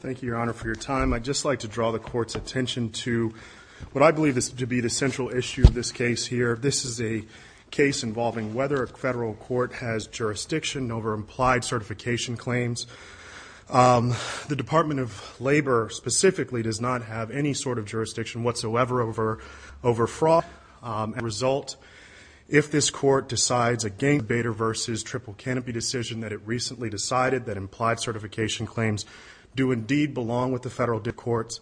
Thank you, Your Honor, for your time. I'd just like to draw the Court's attention to what I believe to be the central issue of this case here. This is a case involving whether a federal court has jurisdiction over implied certification claims. The Department of Labor specifically does not have any sort of jurisdiction whatsoever over fraud. As a result, if this Court decides against the Bader v. Triple Canopy decision that it recently decided that implied certification claims do indeed belong with the federal courts,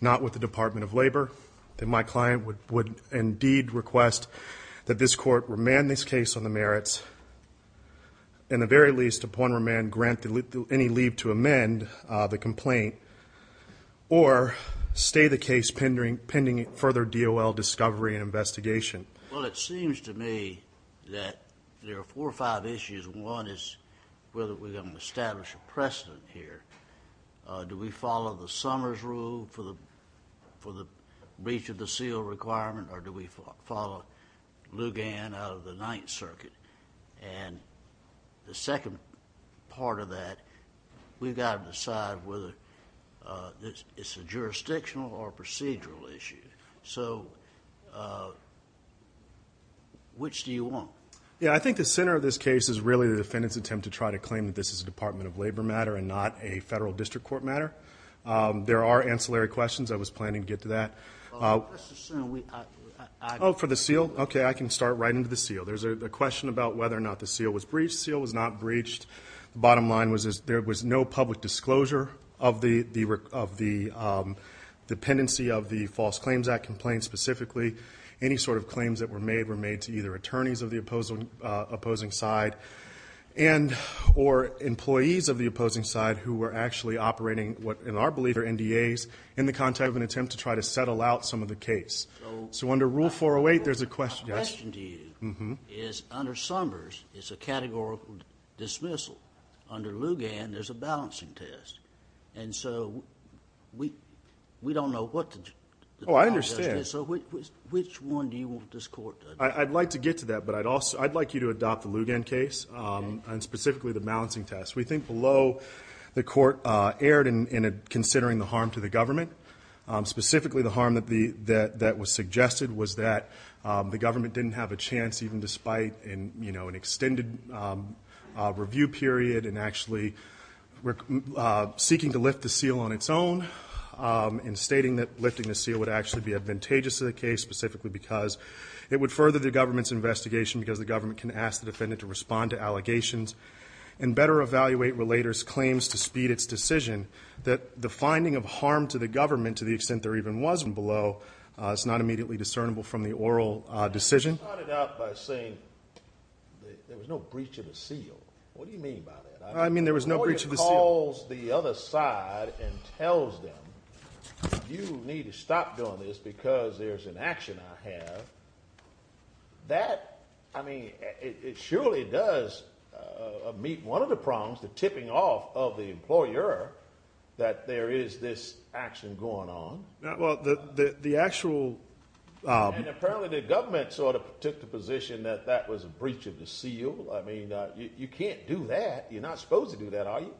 not with the Department of Labor, then my client would indeed request that this Court remand this case on the merits, and the very least, upon remand, grant any leave to amend the complaint or stay the case pending further DOL discovery and investigation. Well, it seems to me that there are four or five issues. One is whether we're going to establish a precedent here. Do we follow the Summers rule for the breach of the seal requirement, or do we follow Lugan out of the Ninth Circuit? And the second part of that, we've got to decide whether it's a jurisdictional or procedural issue. So, which do you want? Yeah, I think the center of this case is really the defendant's attempt to try to claim that this is a Department of Labor matter and not a federal district court matter. There are ancillary questions. I was planning to get to that. Oh, for the seal? Okay, I can start right into the seal. There's a question about whether or not the seal was breached. The seal was not breached. The bottom line was there was no public disclosure of the dependency of the False Claims Act complaint specifically. Any sort of claims that were made were made to either attorneys of the opposing side or employees of the opposing side who were actually operating what in our belief are NDAs in the context of an attempt to try to settle out some of the case. So, under Rule 408, there's a question. My question to you is, under Summers, it's a categorical dismissal. Under Lugan, there's a balancing test. And so, we don't know what the balance test is. So, which one do you want this court to adopt? I'd like to get to that, but I'd like you to adopt the Lugan case and specifically the balancing test. We think below, the court erred in considering the harm to the government. Specifically, the harm that was suggested was that the government didn't have a chance even despite an extended review period and actually seeking to lift the seal on its own and stating that lifting the seal would actually be advantageous to the case specifically because it would further the government's investigation because the government can ask the defendant to respond to allegations and better evaluate relator's claims to speed its decision that the finding of harm to the government to the extent there even was one below is not immediately discernible from the oral decision. You started out by saying there was no breach of the seal. I mean there was no breach of the seal. The court calls the other side and tells them you need to stop doing this because there's an action I have. That, I mean, it surely does meet one of the problems, the tipping off of the employer that there is this action going on. Well, the actual And apparently the government sort of took the position that that was a breach of the seal. I mean, you can't do that. You're not supposed to do that, are you?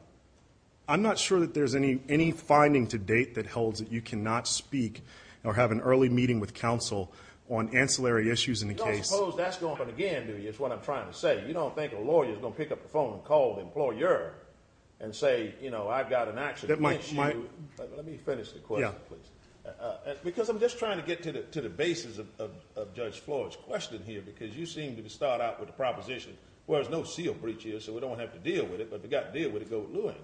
I'm not sure that there's any finding to date that holds that you cannot speak or have an early meeting with counsel on ancillary issues in the case. You don't suppose that's going on again, do you, is what I'm trying to say. You don't think a lawyer is going to pick up the phone and call the employer and say, you know, I've got an action against you. Let me finish the question, please. Because I'm just trying to get to the basis of Judge Floyd's question here because you seem to start out with a proposition where there's no seal breach here so we don't have to deal with it, but if we've got to deal with it, go with Lewin.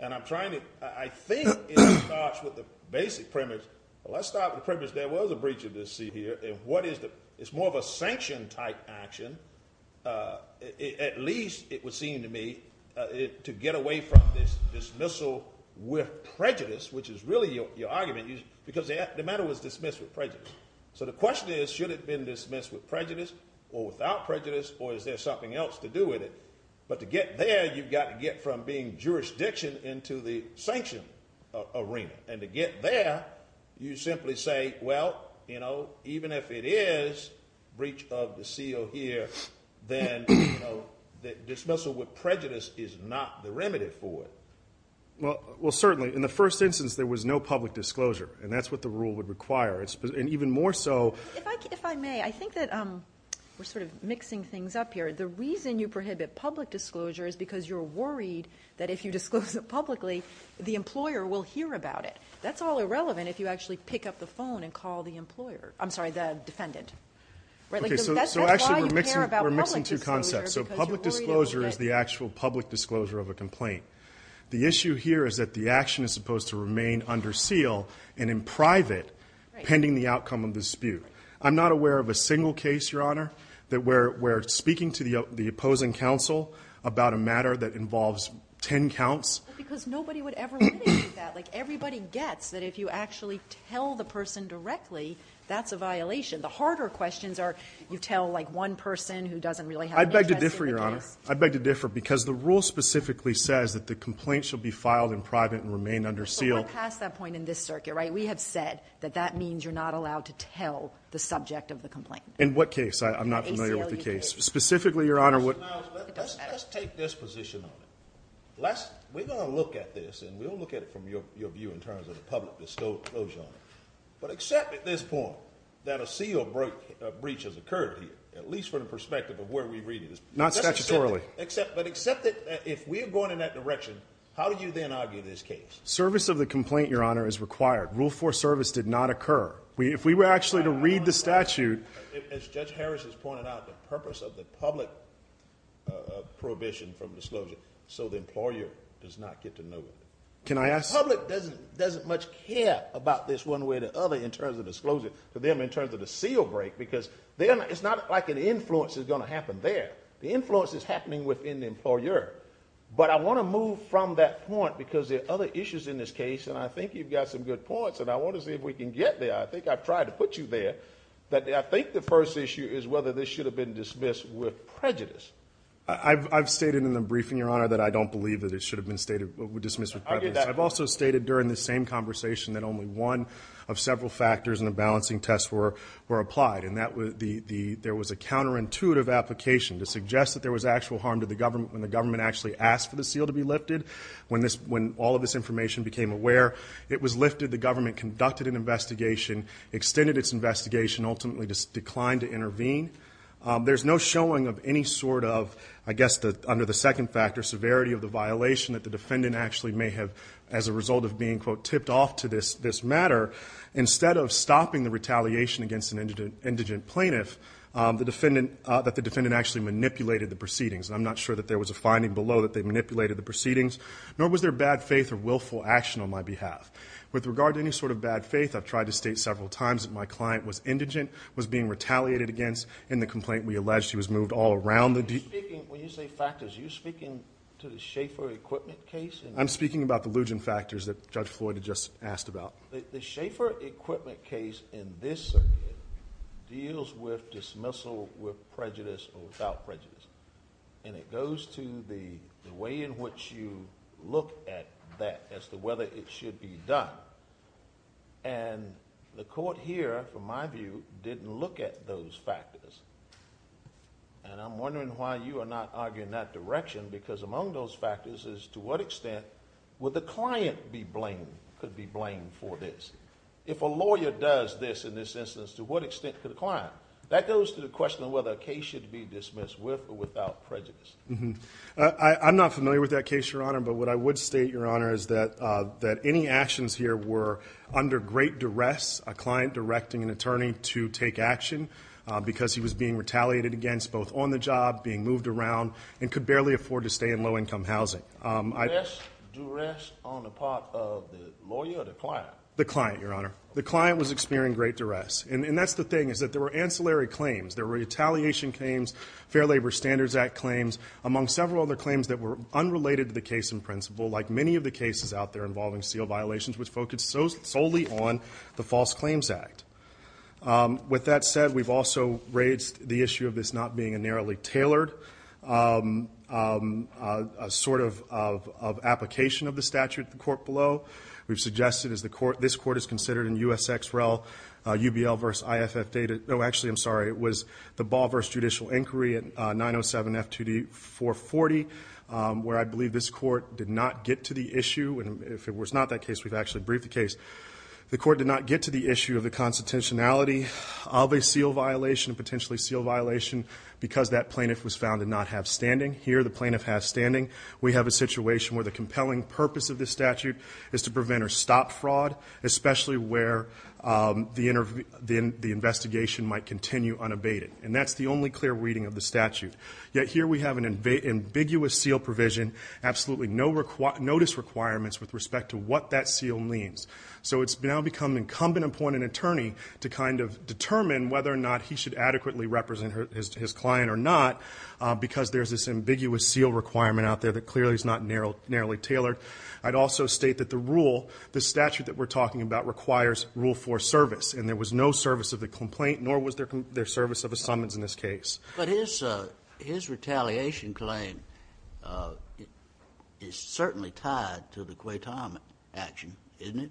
And I'm trying to – I think it starts with the basic premise. Well, let's start with the premise there was a breach of the seal here. And what is the – it's more of a sanction-type action. At least it would seem to me, to get away from this dismissal with prejudice, which is really your argument, because the matter was dismissed with prejudice. So the question is, should it have been dismissed with prejudice or without prejudice, or is there something else to do with it? But to get there, you've got to get from being jurisdiction into the sanction arena. And to get there, you simply say, well, you know, even if it is breach of the seal here, then dismissal with prejudice is not the remedy for it. Well, certainly, in the first instance there was no public disclosure, and that's what the rule would require, and even more so. If I may, I think that we're sort of mixing things up here. The reason you prohibit public disclosure is because you're worried that if you disclose it publicly, the employer will hear about it. That's all irrelevant if you actually pick up the phone and call the employer – I'm sorry, the defendant. Okay, so actually we're mixing two concepts. So public disclosure is the actual public disclosure of a complaint. The issue here is that the action is supposed to remain under seal and in private pending the outcome of the dispute. I'm not aware of a single case, Your Honor, where we're speaking to the opposing counsel about a matter that involves ten counts. But because nobody would ever limit you to that. Like everybody gets that if you actually tell the person directly, that's a violation. The harder questions are you tell, like, one person who doesn't really have an interest in the case. I'd beg to differ, Your Honor. I'd beg to differ because the rule specifically says that the complaint should be filed in private and remain under seal. We've gone past that point in this circuit, right? We have said that that means you're not allowed to tell the subject of the complaint. In what case? I'm not familiar with the case. Specifically, Your Honor, what – It doesn't matter. Let's take this position on it. We're going to look at this and we'll look at it from your view in terms of the public disclosure on it. But accept at this point that a seal breach has occurred here, at least from the perspective of where we read it. Not statutorily. But accept that if we're going in that direction, how do you then argue this case? Service of the complaint, Your Honor, is required. Rule 4 service did not occur. If we were actually to read the statute – As Judge Harris has pointed out, the purpose of the public prohibition from disclosure so the employer does not get to know it. Can I ask – The public doesn't much care about this one way or the other in terms of disclosure. To them, in terms of the seal break because it's not like an influence is going to happen there. The influence is happening within the employer. But I want to move from that point because there are other issues in this case. And I think you've got some good points and I want to see if we can get there. I think I've tried to put you there. But I think the first issue is whether this should have been dismissed with prejudice. I've stated in the briefing, Your Honor, that I don't believe that it should have been stated – dismissed with prejudice. I've also stated during this same conversation that only one of several factors in the balancing test were applied. There was a counterintuitive application to suggest that there was actual harm to the government when the government actually asked for the seal to be lifted. When all of this information became aware, it was lifted. The government conducted an investigation, extended its investigation, ultimately declined to intervene. There's no showing of any sort of, I guess, under the second factor, severity of the violation that the defendant actually may have, as a result of being, quote, an indigent plaintiff, that the defendant actually manipulated the proceedings. And I'm not sure that there was a finding below that they manipulated the proceedings, nor was there bad faith or willful action on my behalf. With regard to any sort of bad faith, I've tried to state several times that my client was indigent, was being retaliated against in the complaint we alleged he was moved all around the – When you say factors, are you speaking to the Schaeffer equipment case? I'm speaking about the Lugin factors that Judge Floyd had just asked about. The Schaeffer equipment case in this circuit deals with dismissal with prejudice or without prejudice. And it goes to the way in which you look at that as to whether it should be done. And the court here, from my view, didn't look at those factors. And I'm wondering why you are not arguing that direction, because among those factors is to what extent would the client be blamed, could be blamed for this? If a lawyer does this in this instance, to what extent could the client? That goes to the question of whether a case should be dismissed with or without prejudice. I'm not familiar with that case, Your Honor, but what I would state, Your Honor, is that any actions here were under great duress, a client directing an attorney to take action, because he was being retaliated against both on the job, being moved around, and could barely afford to stay in low-income housing. Duress on the part of the lawyer or the client? The client, Your Honor. The client was experiencing great duress. And that's the thing, is that there were ancillary claims. There were retaliation claims, Fair Labor Standards Act claims, among several other claims that were unrelated to the case in principle, like many of the cases out there involving seal violations, which focused solely on the False Claims Act. With that said, we've also raised the issue of this not being a narrowly tailored sort of application of the statute at the court below. We've suggested, as this court has considered in USXREL, UBL versus IFF data. Oh, actually, I'm sorry. It was the Ball versus Judicial Inquiry at 907-F2D-440, where I believe this court did not get to the issue. And if it was not that case, we've actually briefed the case. The court did not get to the issue of the constitutionality of a seal violation, potentially seal violation, because that plaintiff was found to not have standing. Here, the plaintiff has standing. We have a situation where the compelling purpose of this statute is to prevent or stop fraud, especially where the investigation might continue unabated. And that's the only clear reading of the statute. Yet here we have an ambiguous seal provision, and absolutely no notice requirements with respect to what that seal means. So it's now become incumbent upon an attorney to kind of determine whether or not he should adequately represent his client or not, because there's this ambiguous seal requirement out there that clearly is not narrowly tailored. I'd also state that the rule, the statute that we're talking about, requires Rule 4 service, and there was no service of the complaint, nor was there service of a summons in this case. But his retaliation claim is certainly tied to the Quaytam action, isn't it?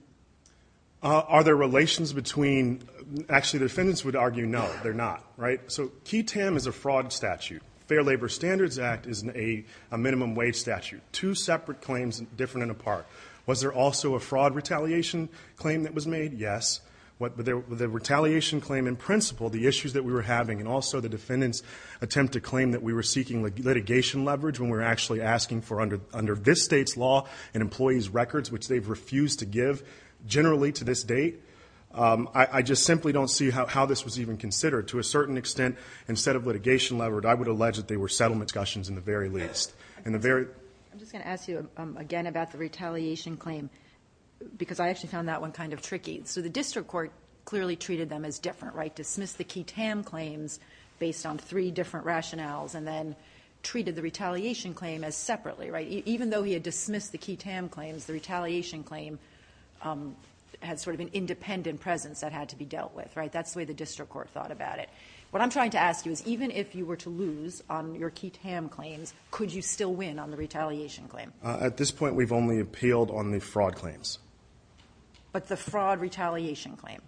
Are there relations between ñ actually, the defendants would argue no, they're not, right? So Quaytam is a fraud statute. Fair Labor Standards Act is a minimum wage statute. Two separate claims, different and apart. Was there also a fraud retaliation claim that was made? Yes. The retaliation claim in principle, the issues that we were having, and also the defendants' attempt to claim that we were seeking litigation leverage when we were actually asking for under this state's law and employees' records, which they've refused to give generally to this date. I just simply don't see how this was even considered. To a certain extent, instead of litigation leverage, I would allege that they were settlement discussions in the very least. I'm just going to ask you again about the retaliation claim, because I actually found that one kind of tricky. So the district court clearly treated them as different, right? Dismissed the Quaytam claims based on three different rationales and then treated the retaliation claim as separately, right? Even though he had dismissed the Quaytam claims, the retaliation claim had sort of an independent presence that had to be dealt with, right? That's the way the district court thought about it. What I'm trying to ask you is even if you were to lose on your Quaytam claims, could you still win on the retaliation claim? At this point, we've only appealed on the fraud claims. But the fraud retaliation claim?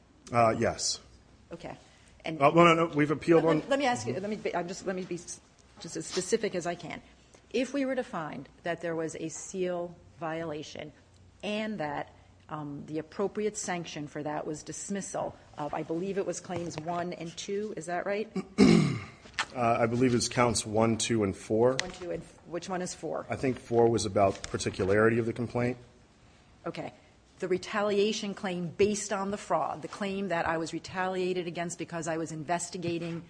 Yes. Okay. No, no, no. We've appealed on... Let me ask you. Let me be just as specific as I can. If we were to find that there was a seal violation and that the appropriate sanction for that was dismissal, I believe it was Claims 1 and 2. Is that right? I believe it's Counts 1, 2, and 4. Which one is 4? I think 4 was about particularity of the complaint. Okay. Okay. The retaliation claim based on the fraud, the claim that I was retaliated against because I was investigating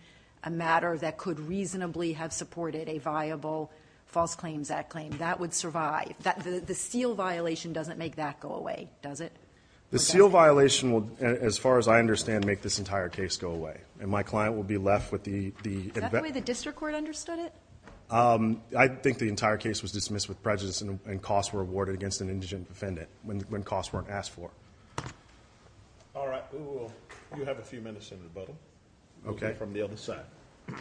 a matter that could reasonably have supported a viable False Claims Act claim, that would survive. The seal violation doesn't make that go away, does it? The seal violation will, as far as I understand, make this entire case go away. And my client will be left with the... Is that the way the district court understood it? I think the entire case was dismissed with prejudice and costs were awarded against an indigent defendant when costs weren't asked for. All right. You have a few minutes, Senator Butler. Okay. From the other side. If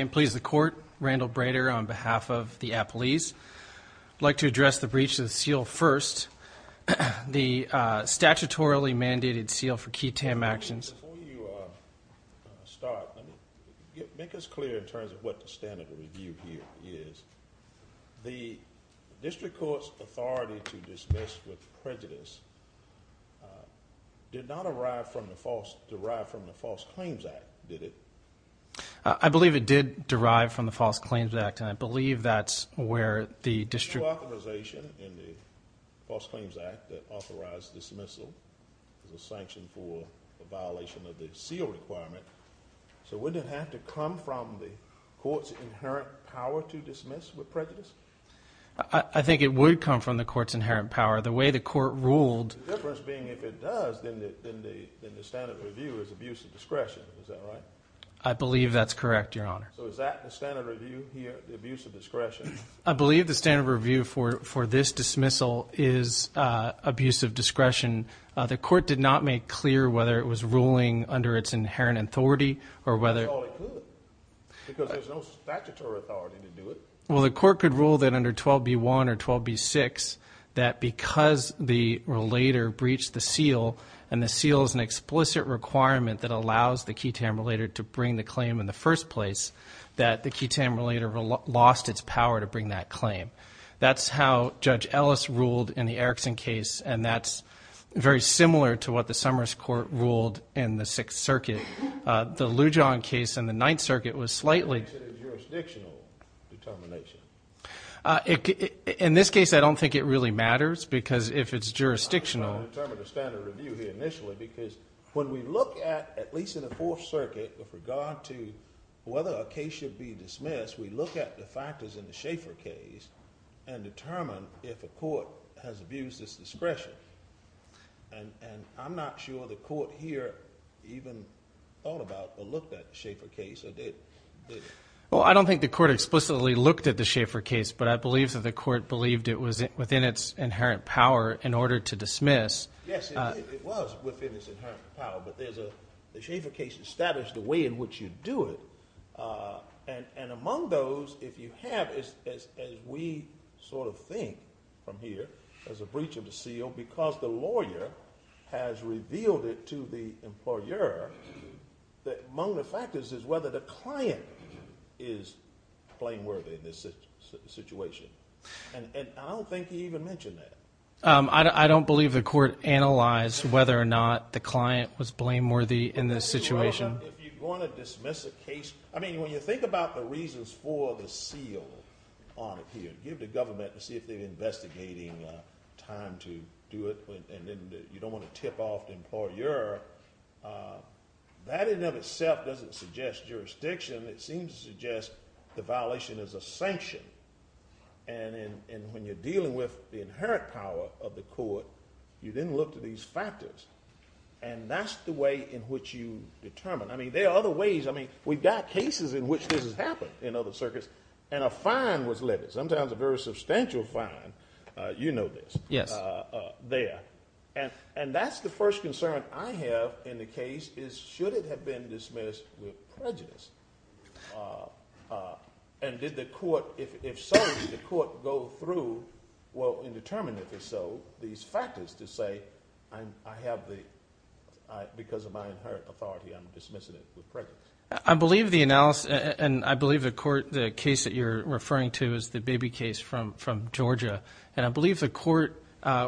I may please the court. Randall Brader on behalf of the Appalese. I'd like to address the breach of the seal first. The statutorily mandated seal for key TAM actions. Before you start, make us clear in terms of what the standard of review here is. The district court's authority to dismiss with prejudice did not derive from the False Claims Act, did it? I believe it did derive from the False Claims Act, and I believe that's where the district... The seal authorization in the False Claims Act that authorized dismissal is a sanction for a violation of the seal requirement. So wouldn't it have to come from the court's inherent power to dismiss with prejudice? I think it would come from the court's inherent power. The way the court ruled... The difference being if it does, then the standard of review is abuse of discretion. Is that right? I believe that's correct, Your Honor. So is that the standard of review here, the abuse of discretion? I believe the standard of review for this dismissal is abuse of discretion. The court did not make clear whether it was ruling under its inherent authority or whether... That's all it could because there's no statutory authority to do it. Well, the court could rule that under 12B1 or 12B6, that because the relator breached the seal, and the seal is an explicit requirement that allows the key TAM relator to bring the claim in the first place, that the key TAM relator lost its power to bring that claim. That's how Judge Ellis ruled in the Erickson case, and that's very similar to what the Summers court ruled in the Sixth Circuit. The Lujan case in the Ninth Circuit was slightly... Is it a jurisdictional determination? In this case, I don't think it really matters because if it's jurisdictional... I'm trying to determine the standard of review here initially because when we look at, at least in the Fourth Circuit, with regard to whether a case should be dismissed, we look at the factors in the Schaeffer case and determine if a court has abused its discretion. And I'm not sure the court here even thought about or looked at the Schaeffer case or did. Well, I don't think the court explicitly looked at the Schaeffer case, but I believe that the court believed it was within its inherent power in order to dismiss. Yes, it was within its inherent power, but the Schaeffer case established the way in which you do it. And among those, if you have, as we sort of think from here, as a breach of the seal, because the lawyer has revealed it to the employer, among the factors is whether the client is blameworthy in this situation. And I don't think he even mentioned that. I don't believe the court analyzed whether or not the client was blameworthy in this situation. If you want to dismiss a case, I mean, when you think about the reasons for the seal on it here, give the government to see if they're investigating time to do it and then you don't want to tip off the employer, that in and of itself doesn't suggest jurisdiction. It seems to suggest the violation is a sanction. And when you're dealing with the inherent power of the court, you then look to these factors. And that's the way in which you determine. I mean, there are other ways. I mean, we've got cases in which this has happened in other circuits and a fine was levied, sometimes a very substantial fine, you know this, there. And that's the first concern I have in the case is should it have been dismissed with prejudice? And did the court, if so, did the court go through, well, and determine if it's so, these factors to say I have the, because of my inherent authority, I'm dismissing it with prejudice. I believe the analysis, and I believe the court, the case that you're referring to is the Baby case from Georgia. And I believe the court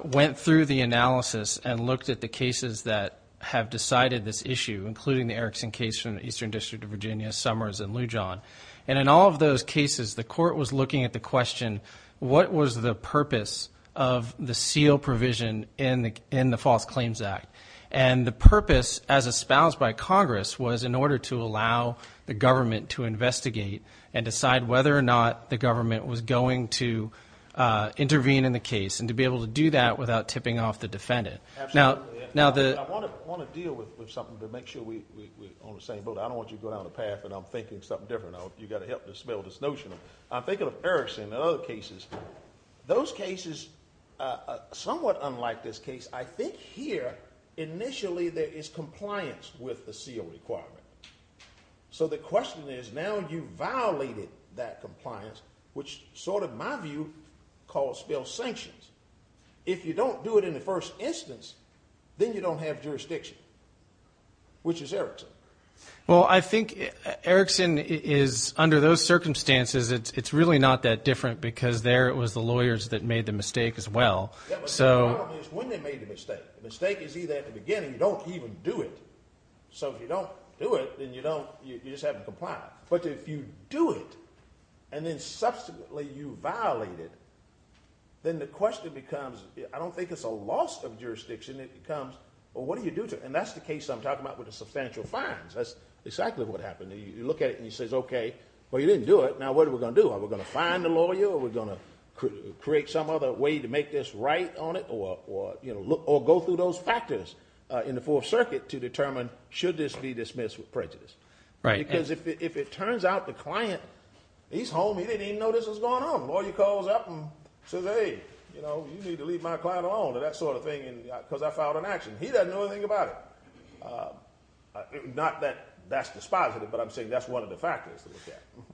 went through the analysis and looked at the cases that have decided this issue, including the Erickson case from the Eastern District of Virginia, Summers, and Lujan. And in all of those cases, the court was looking at the question, what was the purpose of the seal provision in the False Claims Act? And the purpose, as espoused by Congress, was in order to allow the government to investigate and decide whether or not the government was going to intervene in the case and to be able to do that without tipping off the defendant. Absolutely. I want to deal with something to make sure we're on the same boat. I don't want you to go down a path and I'm thinking something different. You've got to help dispel this notion. I'm thinking of Erickson and other cases. Those cases, somewhat unlike this case, I think here initially there is compliance with the seal requirement. So the question is now you've violated that compliance, which sort of my view calls for sanctions. If you don't do it in the first instance, then you don't have jurisdiction, which is Erickson. Well, I think Erickson is under those circumstances, it's really not that different because there it was the lawyers that made the mistake as well. The problem is when they made the mistake. The mistake is either at the beginning, you don't even do it. So if you don't do it, then you just haven't complied. But if you do it and then subsequently you violate it, then the question becomes I don't think it's a loss of jurisdiction. It becomes, well, what do you do to it? And that's the case I'm talking about with the substantial fines. That's exactly what happened. You look at it and you say, okay, well, you didn't do it. Now what are we going to do? Are we going to fine the lawyer or are we going to create some other way to make this right on it or go through those factors in the Fourth Circuit to determine should this be dismissed with prejudice? Because if it turns out the client, he's home, he didn't even know this was going on. The lawyer calls up and says, hey, you need to leave my client alone or that sort of thing because I filed an action. He doesn't know anything about it. Not that that's dispositive, but I'm saying that's one of the factors.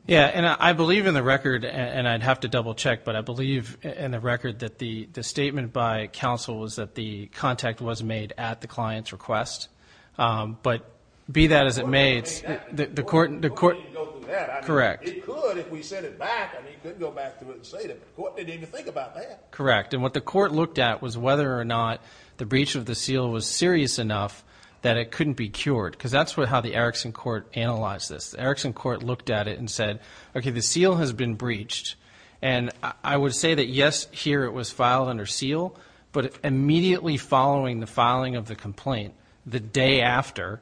Yeah, and I believe in the record, and I'd have to double check, but I believe in the record that the statement by counsel was that the contact was made at the client's request. But be that as it may, the court – The court didn't go through that. Correct. It could if we sent it back. I mean, it could go back to it and say that. The court didn't even think about that. Correct. And what the court looked at was whether or not the breach of the seal was serious enough that it couldn't be cured because that's how the Erickson court analyzed this. The Erickson court looked at it and said, okay, the seal has been breached. And I would say that, yes, here it was filed under seal, but immediately following the filing of the complaint, the day after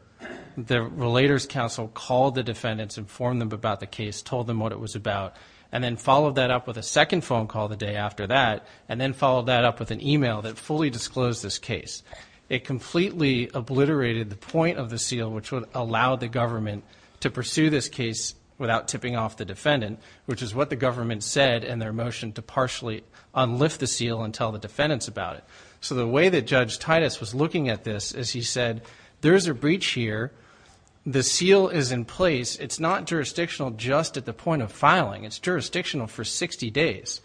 the relator's counsel called the defendants, informed them about the case, told them what it was about, and then followed that up with a second phone call the day after that and then followed that up with an email that fully disclosed this case. It completely obliterated the point of the seal, which would allow the government to pursue this case without tipping off the defendant, which is what the government said in their motion to partially unlift the seal and tell the defendants about it. So the way that Judge Titus was looking at this is he said, there's a breach here. The seal is in place. It's not jurisdictional just at the point of filing. It's jurisdictional for 60 days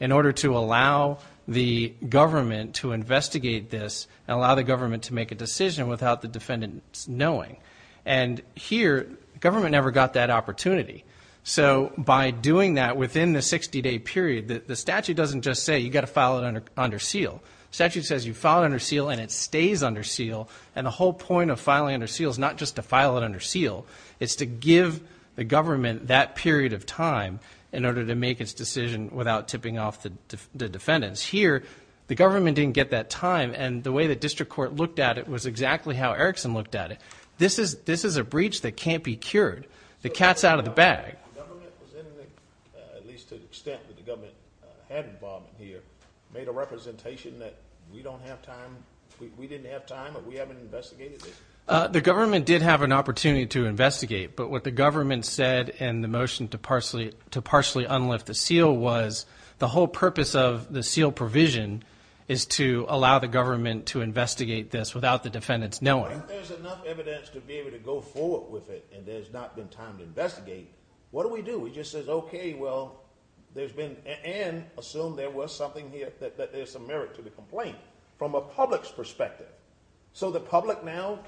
in order to allow the government to investigate this and allow the government to make a decision without the defendants knowing. And here government never got that opportunity. So by doing that within the 60-day period, the statute doesn't just say you've got to file it under seal. The statute says you file it under seal and it stays under seal. And the whole point of filing under seal is not just to file it under seal. It's to give the government that period of time in order to make its decision without tipping off the defendants. Here the government didn't get that time, and the way the district court looked at it was exactly how Erickson looked at it. This is a breach that can't be cured. The cat's out of the bag. The government, at least to the extent that the government had involvement here, made a representation that we don't have time, we didn't have time, but we haven't investigated this. The government did have an opportunity to investigate, but what the government said in the motion to partially unlift the seal was the whole purpose of the seal provision is to allow the government to investigate this without the defendants knowing. If there's enough evidence to be able to go forward with it and there's not been time to investigate, what do we do? We just say, okay, well, there's been and assume there was something here that there's some merit to the complaint from a public's perspective. So the public now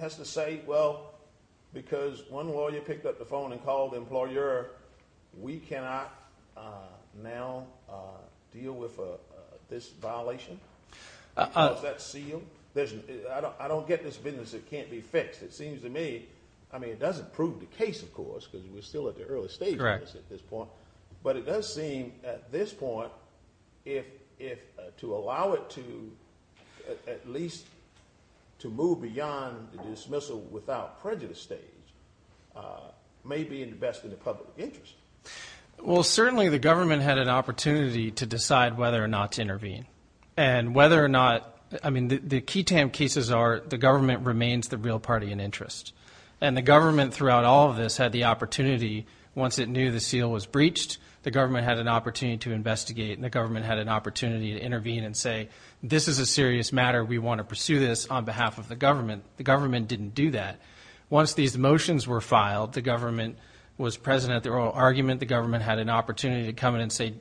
has to say, well, because one lawyer picked up the phone and called the employer, we cannot now deal with this violation because that seal. I don't get this business that can't be fixed. It seems to me, I mean it doesn't prove the case, of course, because we're still at the early stages at this point, but it does seem at this point to allow it to at least to move beyond the dismissal without prejudice stage may be in the best of the public interest. Well, certainly the government had an opportunity to decide whether or not to intervene. And whether or not, I mean the key cases are the government remains the real party in interest. And the government throughout all of this had the opportunity, once it knew the seal was breached, the government had an opportunity to investigate and the government had an opportunity to intervene and say, this is a serious matter. We want to pursue this on behalf of the government. The government didn't do that. Once these motions were filed, the government was present at the oral argument. The government had an opportunity to come in and say,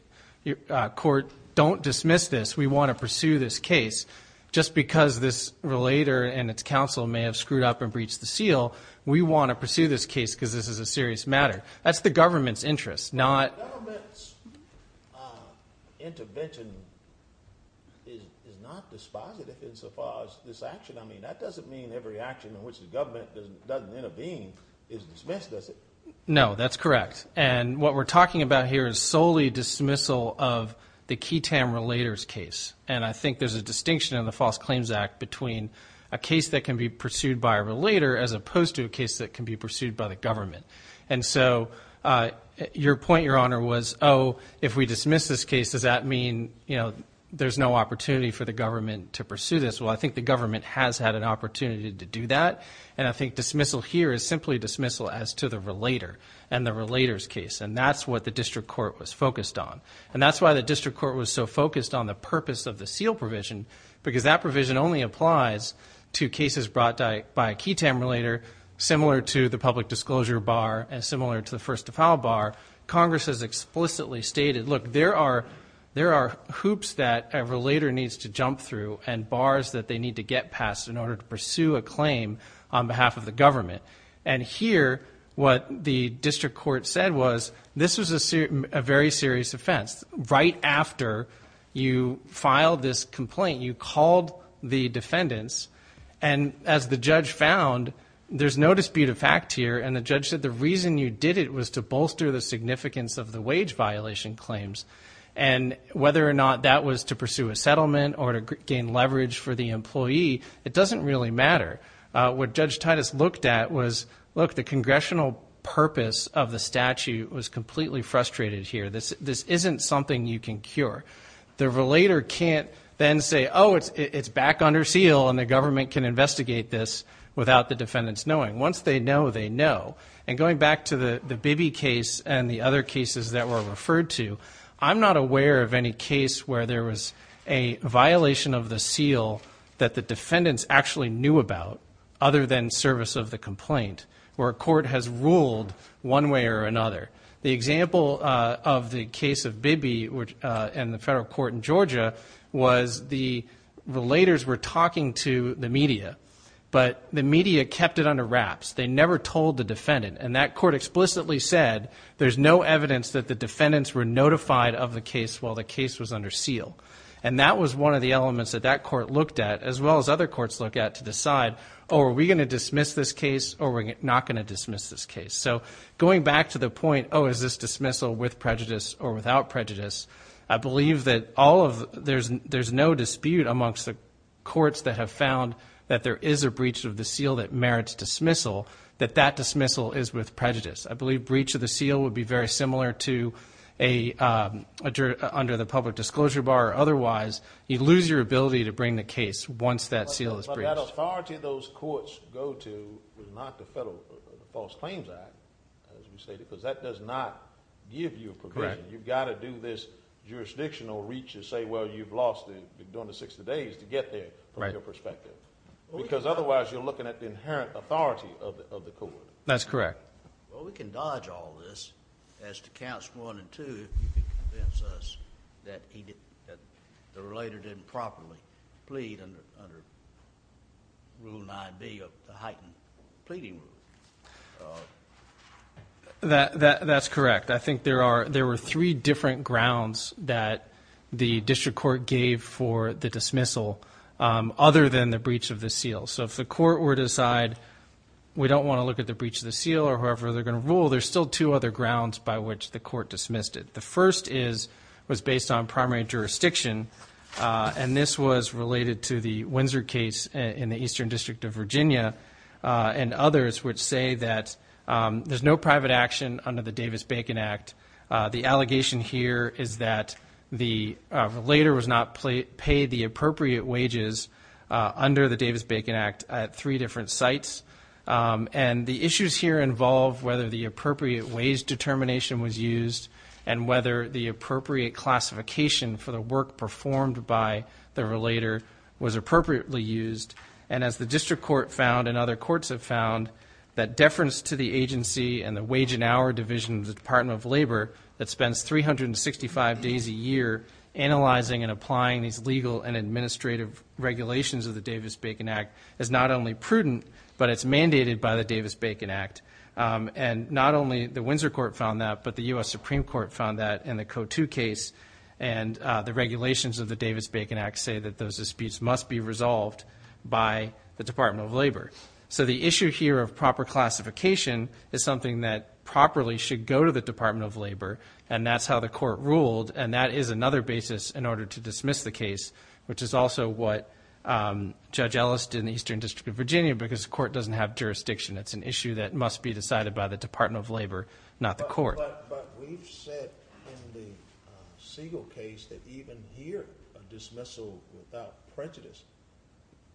court, don't dismiss this. We want to pursue this case. Just because this relator and its counsel may have screwed up and breached the seal, we want to pursue this case because this is a serious matter. That's the government's interest. Well, the government's intervention is not dispositive insofar as this action. I mean, that doesn't mean every action in which the government doesn't intervene is dismissed, does it? No, that's correct. And what we're talking about here is solely dismissal of the key TAM relator's case. And I think there's a distinction in the False Claims Act between a case that can be pursued by a relator as opposed to a case that can be pursued by the government. And so your point, Your Honor, was, oh, if we dismiss this case, does that mean, you know, there's no opportunity for the government to pursue this? Well, I think the government has had an opportunity to do that, and I think dismissal here is simply dismissal as to the relator and the relator's case, and that's what the district court was focused on. And that's why the district court was so focused on the purpose of the seal provision because that provision only applies to cases brought by a key TAM relator similar to the public disclosure bar and similar to the first to file bar. Congress has explicitly stated, look, there are hoops that a relator needs to jump through and bars that they need to get past in order to pursue a claim on behalf of the government. And here what the district court said was this was a very serious offense. Right after you filed this complaint, you called the defendants, and as the judge found, there's no dispute of fact here, and the judge said the reason you did it was to bolster the significance of the wage violation claims. And whether or not that was to pursue a settlement or to gain leverage for the employee, it doesn't really matter. What Judge Titus looked at was, look, the congressional purpose of the statute was completely frustrated here. This isn't something you can cure. The relator can't then say, oh, it's back under seal, and the government can investigate this without the defendants knowing. Once they know, they know. And going back to the Bibby case and the other cases that were referred to, I'm not aware of any case where there was a violation of the seal that the defendants actually knew about other than service of the complaint where a court has ruled one way or another. The example of the case of Bibby in the federal court in Georgia was the relators were talking to the media, but the media kept it under wraps. They never told the defendant. And that court explicitly said there's no evidence that the defendants were notified of the case while the case was under seal. And that was one of the elements that that court looked at as well as other courts looked at to decide, oh, are we going to dismiss this case or are we not going to dismiss this case? So going back to the point, oh, is this dismissal with prejudice or without prejudice, I believe that there's no dispute amongst the courts that have found that there is a breach of the seal that merits dismissal, that that dismissal is with prejudice. I believe breach of the seal would be very similar to under the public disclosure bar. Otherwise, you lose your ability to bring the case once that seal is breached. But that authority those courts go to is not the Federal False Claims Act, as we stated, because that does not give you provision. You've got to do this jurisdictional reach to say, well, you've lost during the 60 days to get there from your perspective. Because otherwise you're looking at the inherent authority of the court. That's correct. Well, we can dodge all this as to counts one and two if you can convince us that the relator didn't properly plead under Rule 9B of the heightened pleading rule. That's correct. I think there were three different grounds that the district court gave for the dismissal other than the breach of the seal. So if the court were to decide we don't want to look at the breach of the seal or however they're going to rule, there's still two other grounds by which the court dismissed it. The first was based on primary jurisdiction, and this was related to the Windsor case in the Eastern District of Virginia. And others would say that there's no private action under the Davis-Bacon Act. The allegation here is that the relator was not paid the appropriate wages under the Davis-Bacon Act at three different sites. And the issues here involve whether the appropriate wage determination was used and whether the appropriate classification for the work performed by the relator was appropriately used. And as the district court found and other courts have found, that deference to the agency and the wage and hour division of the Department of Labor that spends 365 days a year analyzing and applying these legal and administrative regulations of the Davis-Bacon Act is not only prudent, but it's mandated by the Davis-Bacon Act. And not only the Windsor court found that, but the U.S. Supreme Court found that in the Code 2 case. And the regulations of the Davis-Bacon Act say that those disputes must be resolved by the Department of Labor. So the issue here of proper classification is something that properly should go to the Department of Labor, and that's how the court ruled, and that is another basis in order to dismiss the case, which is also what Judge Ellis did in the Eastern District of Virginia because the court doesn't have jurisdiction. It's an issue that must be decided by the Department of Labor, not the court. But we've said in the Siegel case that even here a dismissal without prejudice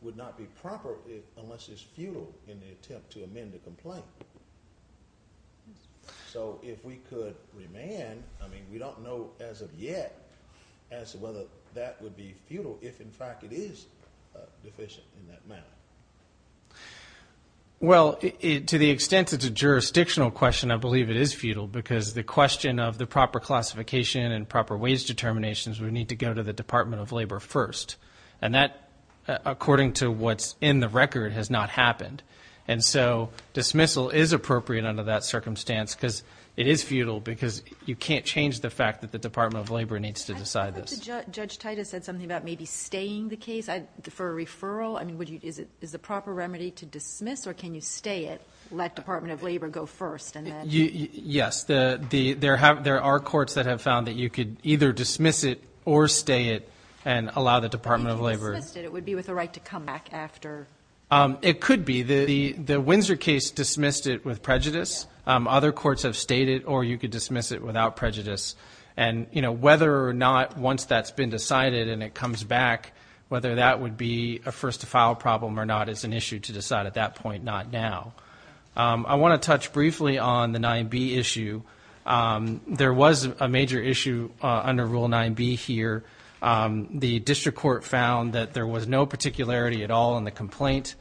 would not be proper unless it's futile in the attempt to amend the complaint. So if we could remand, I mean, we don't know as of yet as to whether that would be futile if, in fact, it is deficient in that manner. Well, to the extent it's a jurisdictional question, I believe it is futile because the question of the proper classification and proper wage determinations would need to go to the Department of Labor first. And that, according to what's in the record, has not happened. And so dismissal is appropriate under that circumstance because it is futile because you can't change the fact that the Department of Labor needs to decide this. Judge Titus said something about maybe staying the case for a referral. I mean, is the proper remedy to dismiss or can you stay it, let Department of Labor go first and then? Yes. There are courts that have found that you could either dismiss it or stay it and allow the Department of Labor. You could dismiss it. It would be with a right to come back after. It could be. The Windsor case dismissed it with prejudice. Other courts have stayed it or you could dismiss it without prejudice. And, you know, whether or not once that's been decided and it comes back, whether that would be a first-to-file problem or not, it's an issue to decide at that point, not now. I want to touch briefly on the 9B issue. There was a major issue under Rule 9B here. The district court found that there was no particularity at all in the complaint.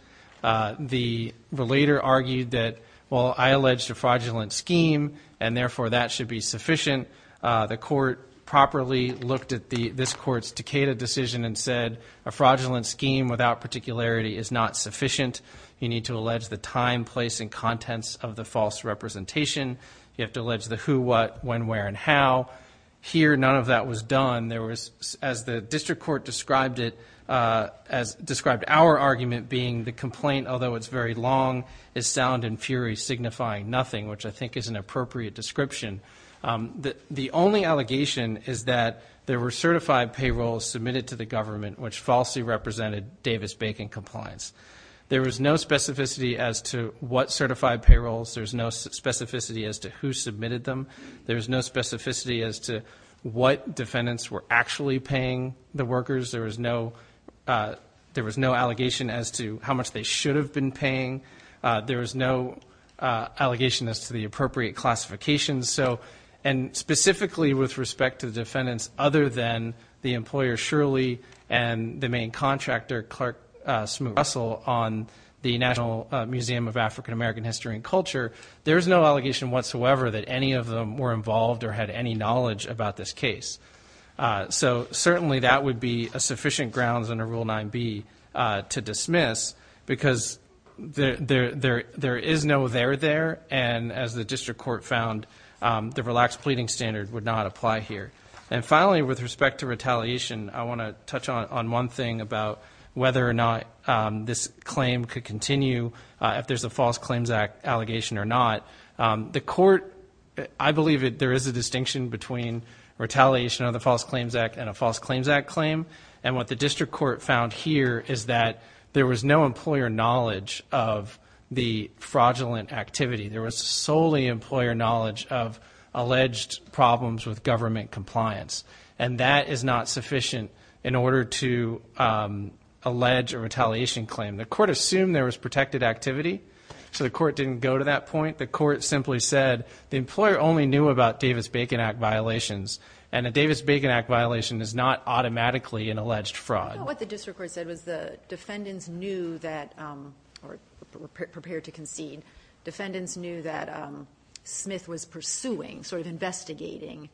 The relator argued that, well, I alleged a fraudulent scheme and, therefore, that should be sufficient. The court properly looked at this court's Decatur decision and said a fraudulent scheme without particularity is not sufficient. You need to allege the time, place, and contents of the false representation. You have to allege the who, what, when, where, and how. Here, none of that was done. There was, as the district court described it, as described our argument being, the complaint, although it's very long, is sound and fury signifying nothing, which I think is an appropriate description. The only allegation is that there were certified payrolls submitted to the government which falsely represented Davis-Bacon compliance. There was no specificity as to what certified payrolls. There's no specificity as to who submitted them. There's no specificity as to what defendants were actually paying the workers. There was no allegation as to how much they should have been paying. There was no allegation as to the appropriate classifications. So, and specifically with respect to defendants other than the employer, Shirley, and the main contractor, Clark Smoot-Russell, on the National Museum of African American History and Culture, there's no allegation whatsoever that any of them were involved or had any knowledge about this case. So certainly that would be a sufficient grounds under Rule 9B to dismiss because there is no there, there. And as the district court found, the relaxed pleading standard would not apply here. And finally, with respect to retaliation, I want to touch on one thing about whether or not this claim could continue. If there's a False Claims Act allegation or not. The court, I believe there is a distinction between retaliation of the False Claims Act and a False Claims Act claim. And what the district court found here is that there was no employer knowledge of the fraudulent activity. There was solely employer knowledge of alleged problems with government compliance. And that is not sufficient in order to allege a retaliation claim. The court assumed there was protected activity. So the court didn't go to that point. The court simply said the employer only knew about Davis-Bacon Act violations, and a Davis-Bacon Act violation is not automatically an alleged fraud. I thought what the district court said was the defendants knew that, or prepared to concede, defendants knew that Smith was pursuing, sort of investigating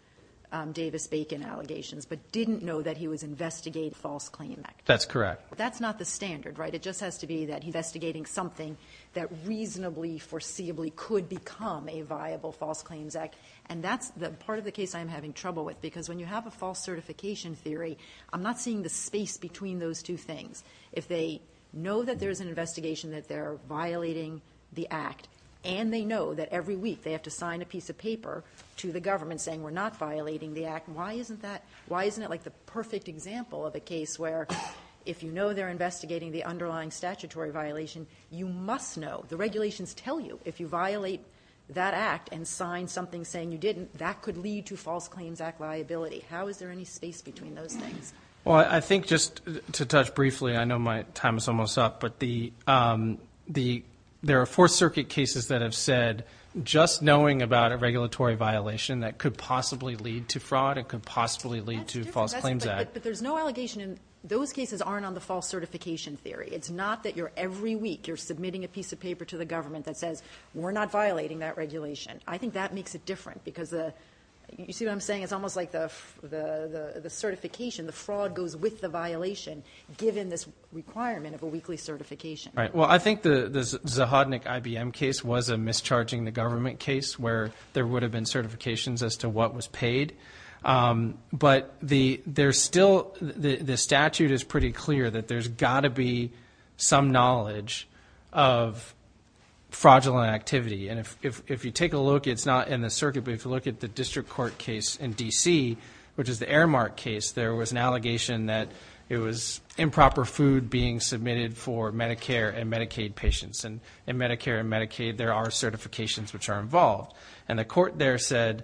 Davis-Bacon allegations, but didn't know that he was investigating a False Claims Act claim. That's correct. That's not the standard, right? It just has to be that investigating something that reasonably, foreseeably could become a viable False Claims Act. And that's the part of the case I'm having trouble with. Because when you have a false certification theory, I'm not seeing the space between those two things. If they know that there's an investigation that they're violating the act, and they know that every week they have to sign a piece of paper to the government saying we're not violating the act, why isn't that like the perfect example of a case where if you know they're investigating the underlying statutory violation, you must know, the regulations tell you, if you violate that act and sign something saying you didn't, that could lead to False Claims Act liability. How is there any space between those things? Well, I think just to touch briefly, I know my time is almost up, but there are Fourth Circuit cases that have said just knowing about a regulatory violation that could possibly lead to fraud, it could possibly lead to False Claims Act. But there's no allegation in those cases aren't on the false certification theory. It's not that every week you're submitting a piece of paper to the government that says we're not violating that regulation. I think that makes it different because you see what I'm saying? It's almost like the certification, the fraud goes with the violation given this requirement of a weekly certification. Right. Well, I think the Zahodnik IBM case was a mischarging the government case where there would have been certifications as to what was paid. But the statute is pretty clear that there's got to be some knowledge of fraudulent activity. And if you take a look, it's not in the circuit, but if you look at the district court case in D.C., which is the Aramark case, there was an allegation that it was improper food being submitted for Medicare and Medicaid patients. And in Medicare and Medicaid, there are certifications which are involved. And the court there said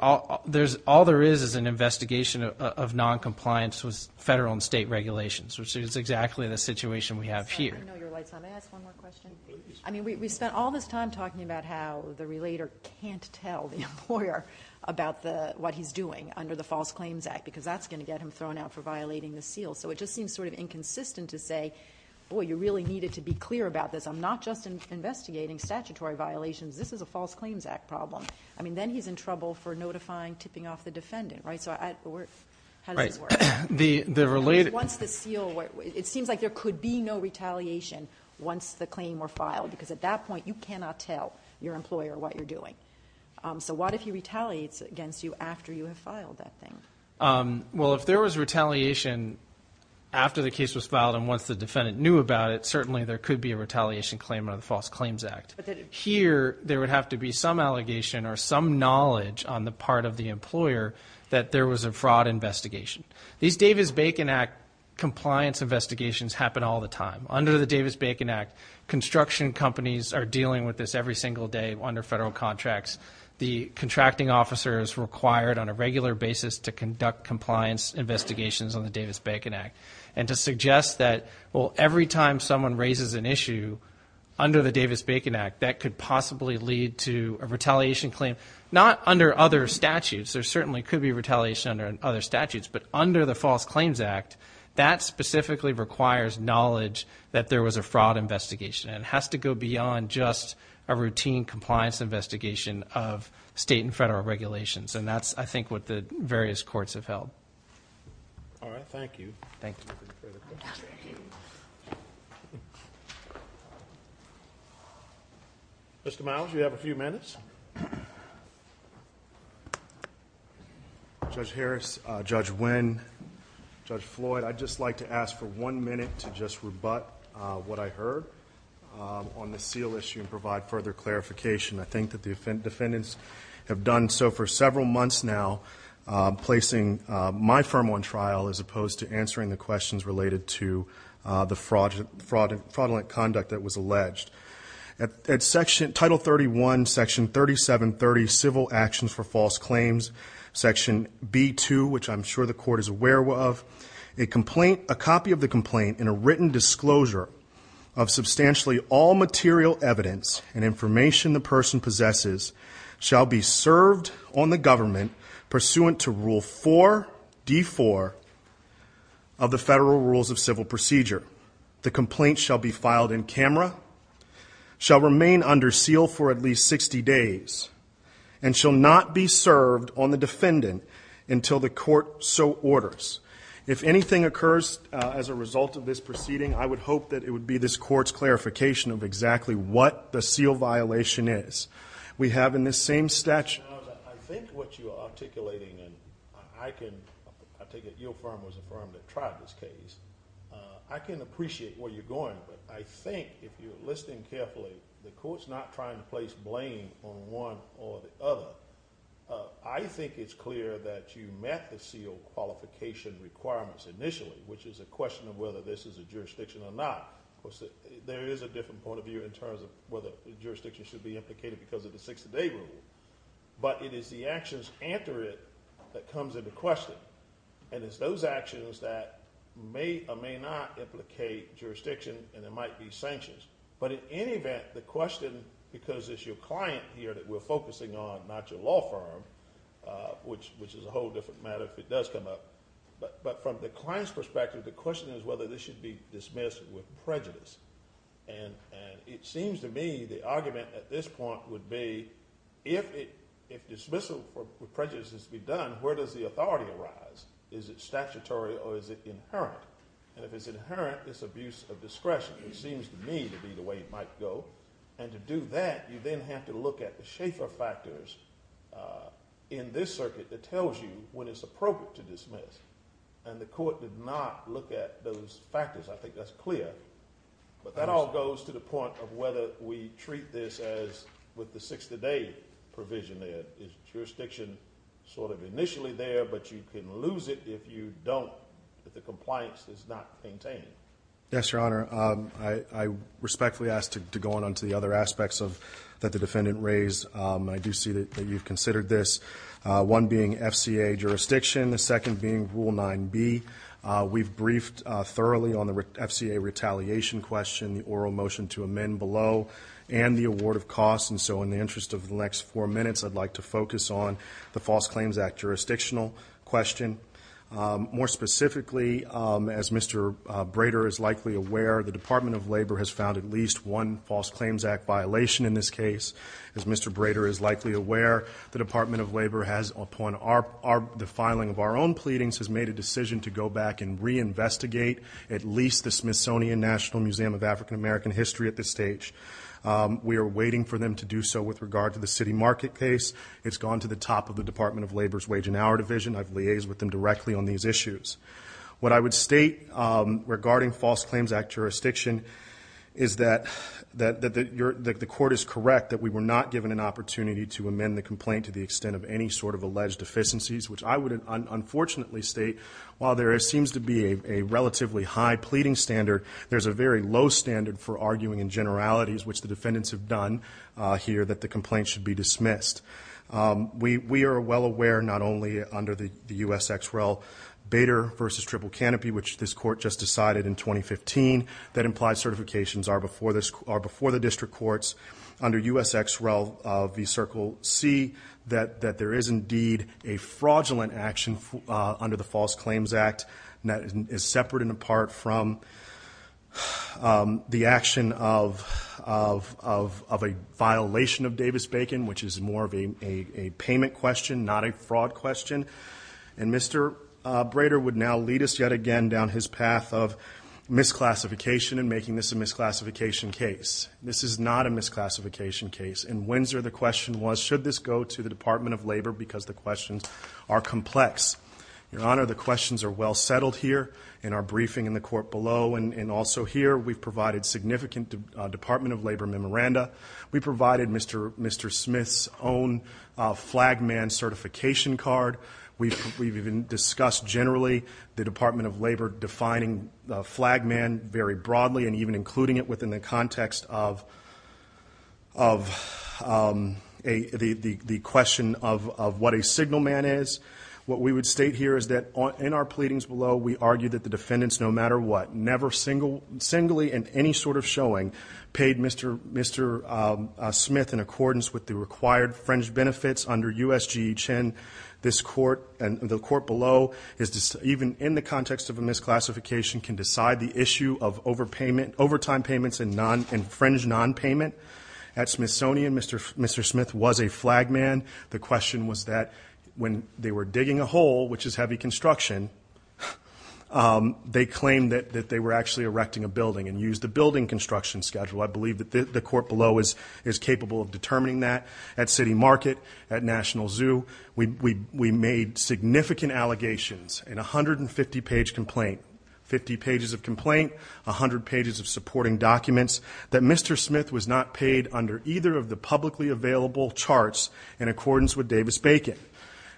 all there is is an investigation of noncompliance with federal and state regulations, which is exactly the situation we have here. I know your light's on. May I ask one more question? Please. I mean, we spent all this time talking about how the relator can't tell the employer about what he's doing under the False Claims Act because that's going to get him thrown out for violating the seal. So it just seems sort of inconsistent to say, boy, you really needed to be clear about this. I'm not just investigating statutory violations. This is a False Claims Act problem. I mean, then he's in trouble for notifying, tipping off the defendant, right? So how does it work? Once the seal, it seems like there could be no retaliation once the claim were filed because at that point you cannot tell your employer what you're doing. So what if he retaliates against you after you have filed that thing? Well, if there was retaliation after the case was filed and once the defendant knew about it, certainly there could be a retaliation claim under the False Claims Act. Here, there would have to be some allegation or some knowledge on the part of the employer that there was a fraud investigation. These Davis-Bacon Act compliance investigations happen all the time. Under the Davis-Bacon Act, construction companies are dealing with this every single day under federal contracts. The contracting officer is required on a regular basis to conduct compliance investigations on the Davis-Bacon Act and to suggest that, well, every time someone raises an issue under the Davis-Bacon Act, that could possibly lead to a retaliation claim. Not under other statutes. There certainly could be retaliation under other statutes. But under the False Claims Act, that specifically requires knowledge that there was a fraud investigation. It has to go beyond just a routine compliance investigation of state and federal regulations. And that's, I think, what the various courts have held. All right, thank you. Thank you. Mr. Miles, you have a few minutes. Judge Harris, Judge Nguyen, Judge Floyd, I'd just like to ask for one minute to just rebut what I heard on the seal issue and provide further clarification. I think that the defendants have done so for several months now, placing my firm on trial as opposed to answering the questions related to the fraudulent conduct that was alleged. At Title 31, Section 3730, Civil Actions for False Claims, Section B2, which I'm sure the court is aware of, a copy of the complaint in a written disclosure of substantially all material evidence and information the person possesses shall be served on the government pursuant to Rule 4D4 of the Federal Rules of Civil Procedure. The complaint shall be filed in camera, shall remain under seal for at least 60 days, and shall not be served on the defendant until the court so orders. If anything occurs as a result of this proceeding, I would hope that it would be this court's clarification of exactly what the seal violation is. We have in this same statute... I think what you are articulating, and I take it your firm was the firm that tried this case, I can appreciate where you're going, but I think if you're listening carefully, the court's not trying to place blame on one or the other. I think it's clear that you met the seal qualification requirements initially, which is a question of whether this is a jurisdiction or not. There is a different point of view in terms of whether jurisdiction should be implicated because of the 60-day rule, but it is the actions after it that comes into question, and it's those actions that may or may not implicate jurisdiction and it might be sanctions. But in any event, the question, because it's your client here that we're focusing on, not your law firm, which is a whole different matter if it does come up, but from the client's perspective, the question is whether this should be dismissed with prejudice. And it seems to me the argument at this point would be if dismissal with prejudice is to be done, where does the authority arise? Is it statutory or is it inherent? And if it's inherent, it's abuse of discretion. It seems to me to be the way it might go, and to do that, you then have to look at the Schaeffer factors in this circuit that tells you when it's appropriate to dismiss. And the court did not look at those factors. I think that's clear. But that all goes to the point of whether we treat this as with the 60-day provision there. Is jurisdiction sort of initially there, but you can lose it if you don't, if the compliance is not maintained? Yes, Your Honor. I respectfully ask to go on to the other aspects that the defendant raised. I do see that you've considered this, one being FCA jurisdiction, the second being Rule 9B. We've briefed thoroughly on the FCA retaliation question, the oral motion to amend below, and the award of costs. And so in the interest of the next four minutes, I'd like to focus on the False Claims Act jurisdictional question. More specifically, as Mr. Brader is likely aware, the Department of Labor has found at least one False Claims Act violation in this case. As Mr. Brader is likely aware, the Department of Labor has, upon the filing of our own pleadings, has made a decision to go back and reinvestigate at least the Smithsonian National Museum of African American History at this stage. We are waiting for them to do so with regard to the city market case. It's gone to the top of the Department of Labor's wage and hour division. I've liaised with them directly on these issues. What I would state regarding False Claims Act jurisdiction is that the court is correct that we were not given an opportunity to amend the complaint to the extent of any sort of alleged deficiencies, which I would unfortunately state, while there seems to be a relatively high pleading standard, there's a very low standard for arguing in generalities, which the defendants have done here, that the complaint should be dismissed. We are well aware, not only under the USXREL Bader v. Triple Canopy, which this court just decided in 2015 that implies certifications are before the district courts, under USXREL v. Circle C, that there is indeed a fraudulent action under the False Claims Act that is separate and apart from the action of a violation of Davis-Bacon, which is more of a payment question, not a fraud question. And Mr. Bader would now lead us yet again down his path of misclassification and making this a misclassification case. This is not a misclassification case. In Windsor, the question was, should this go to the Department of Labor, because the questions are complex. Your Honor, the questions are well settled here in our briefing in the court below, and also here we've provided significant Department of Labor memoranda. We provided Mr. Smith's own flag man certification card. We've even discussed generally the Department of Labor defining flag man very broadly, and even including it within the context of the question of what a signal man is. What we would state here is that in our pleadings below, we argue that the defendants, no matter what, never singly in any sort of showing paid Mr. Smith in accordance with the required fringe benefits under USGE Chin. The court below, even in the context of a misclassification, can decide the issue of overtime payments and fringe non-payment. At Smithsonian, Mr. Smith was a flag man. The question was that when they were digging a hole, which is heavy construction, they claimed that they were actually erecting a building and used the building construction schedule. I believe that the court below is capable of determining that. At City Market, at National Zoo, we made significant allegations in a 150-page complaint, 50 pages of complaint, 100 pages of supporting documents, that Mr. Smith was not paid under either of the publicly available charts in accordance with Davis-Bacon.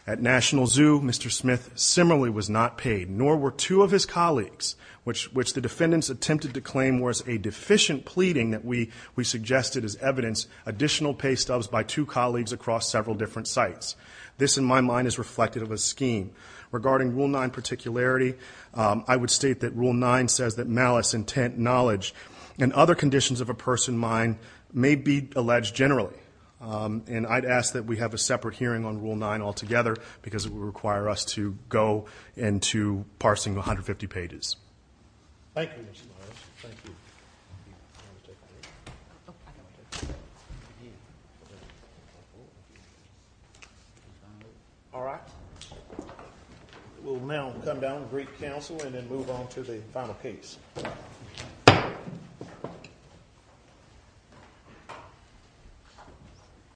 At National Zoo, Mr. Smith similarly was not paid, nor were two of his colleagues, which the defendants attempted to claim was a deficient pleading that we suggested as evidence, additional pay stubs by two colleagues across several different sites. This, in my mind, is reflective of a scheme. Regarding Rule 9 particularity, I would state that Rule 9 says that malice, intent, knowledge, and other conditions of a person's mind may be alleged generally. And I'd ask that we have a separate hearing on Rule 9 altogether because it would require us to go into parsing 150 pages. Thank you, Mr. Morris. Thank you. All right. We'll now come down and brief counsel and then move on to the final case. Thank you.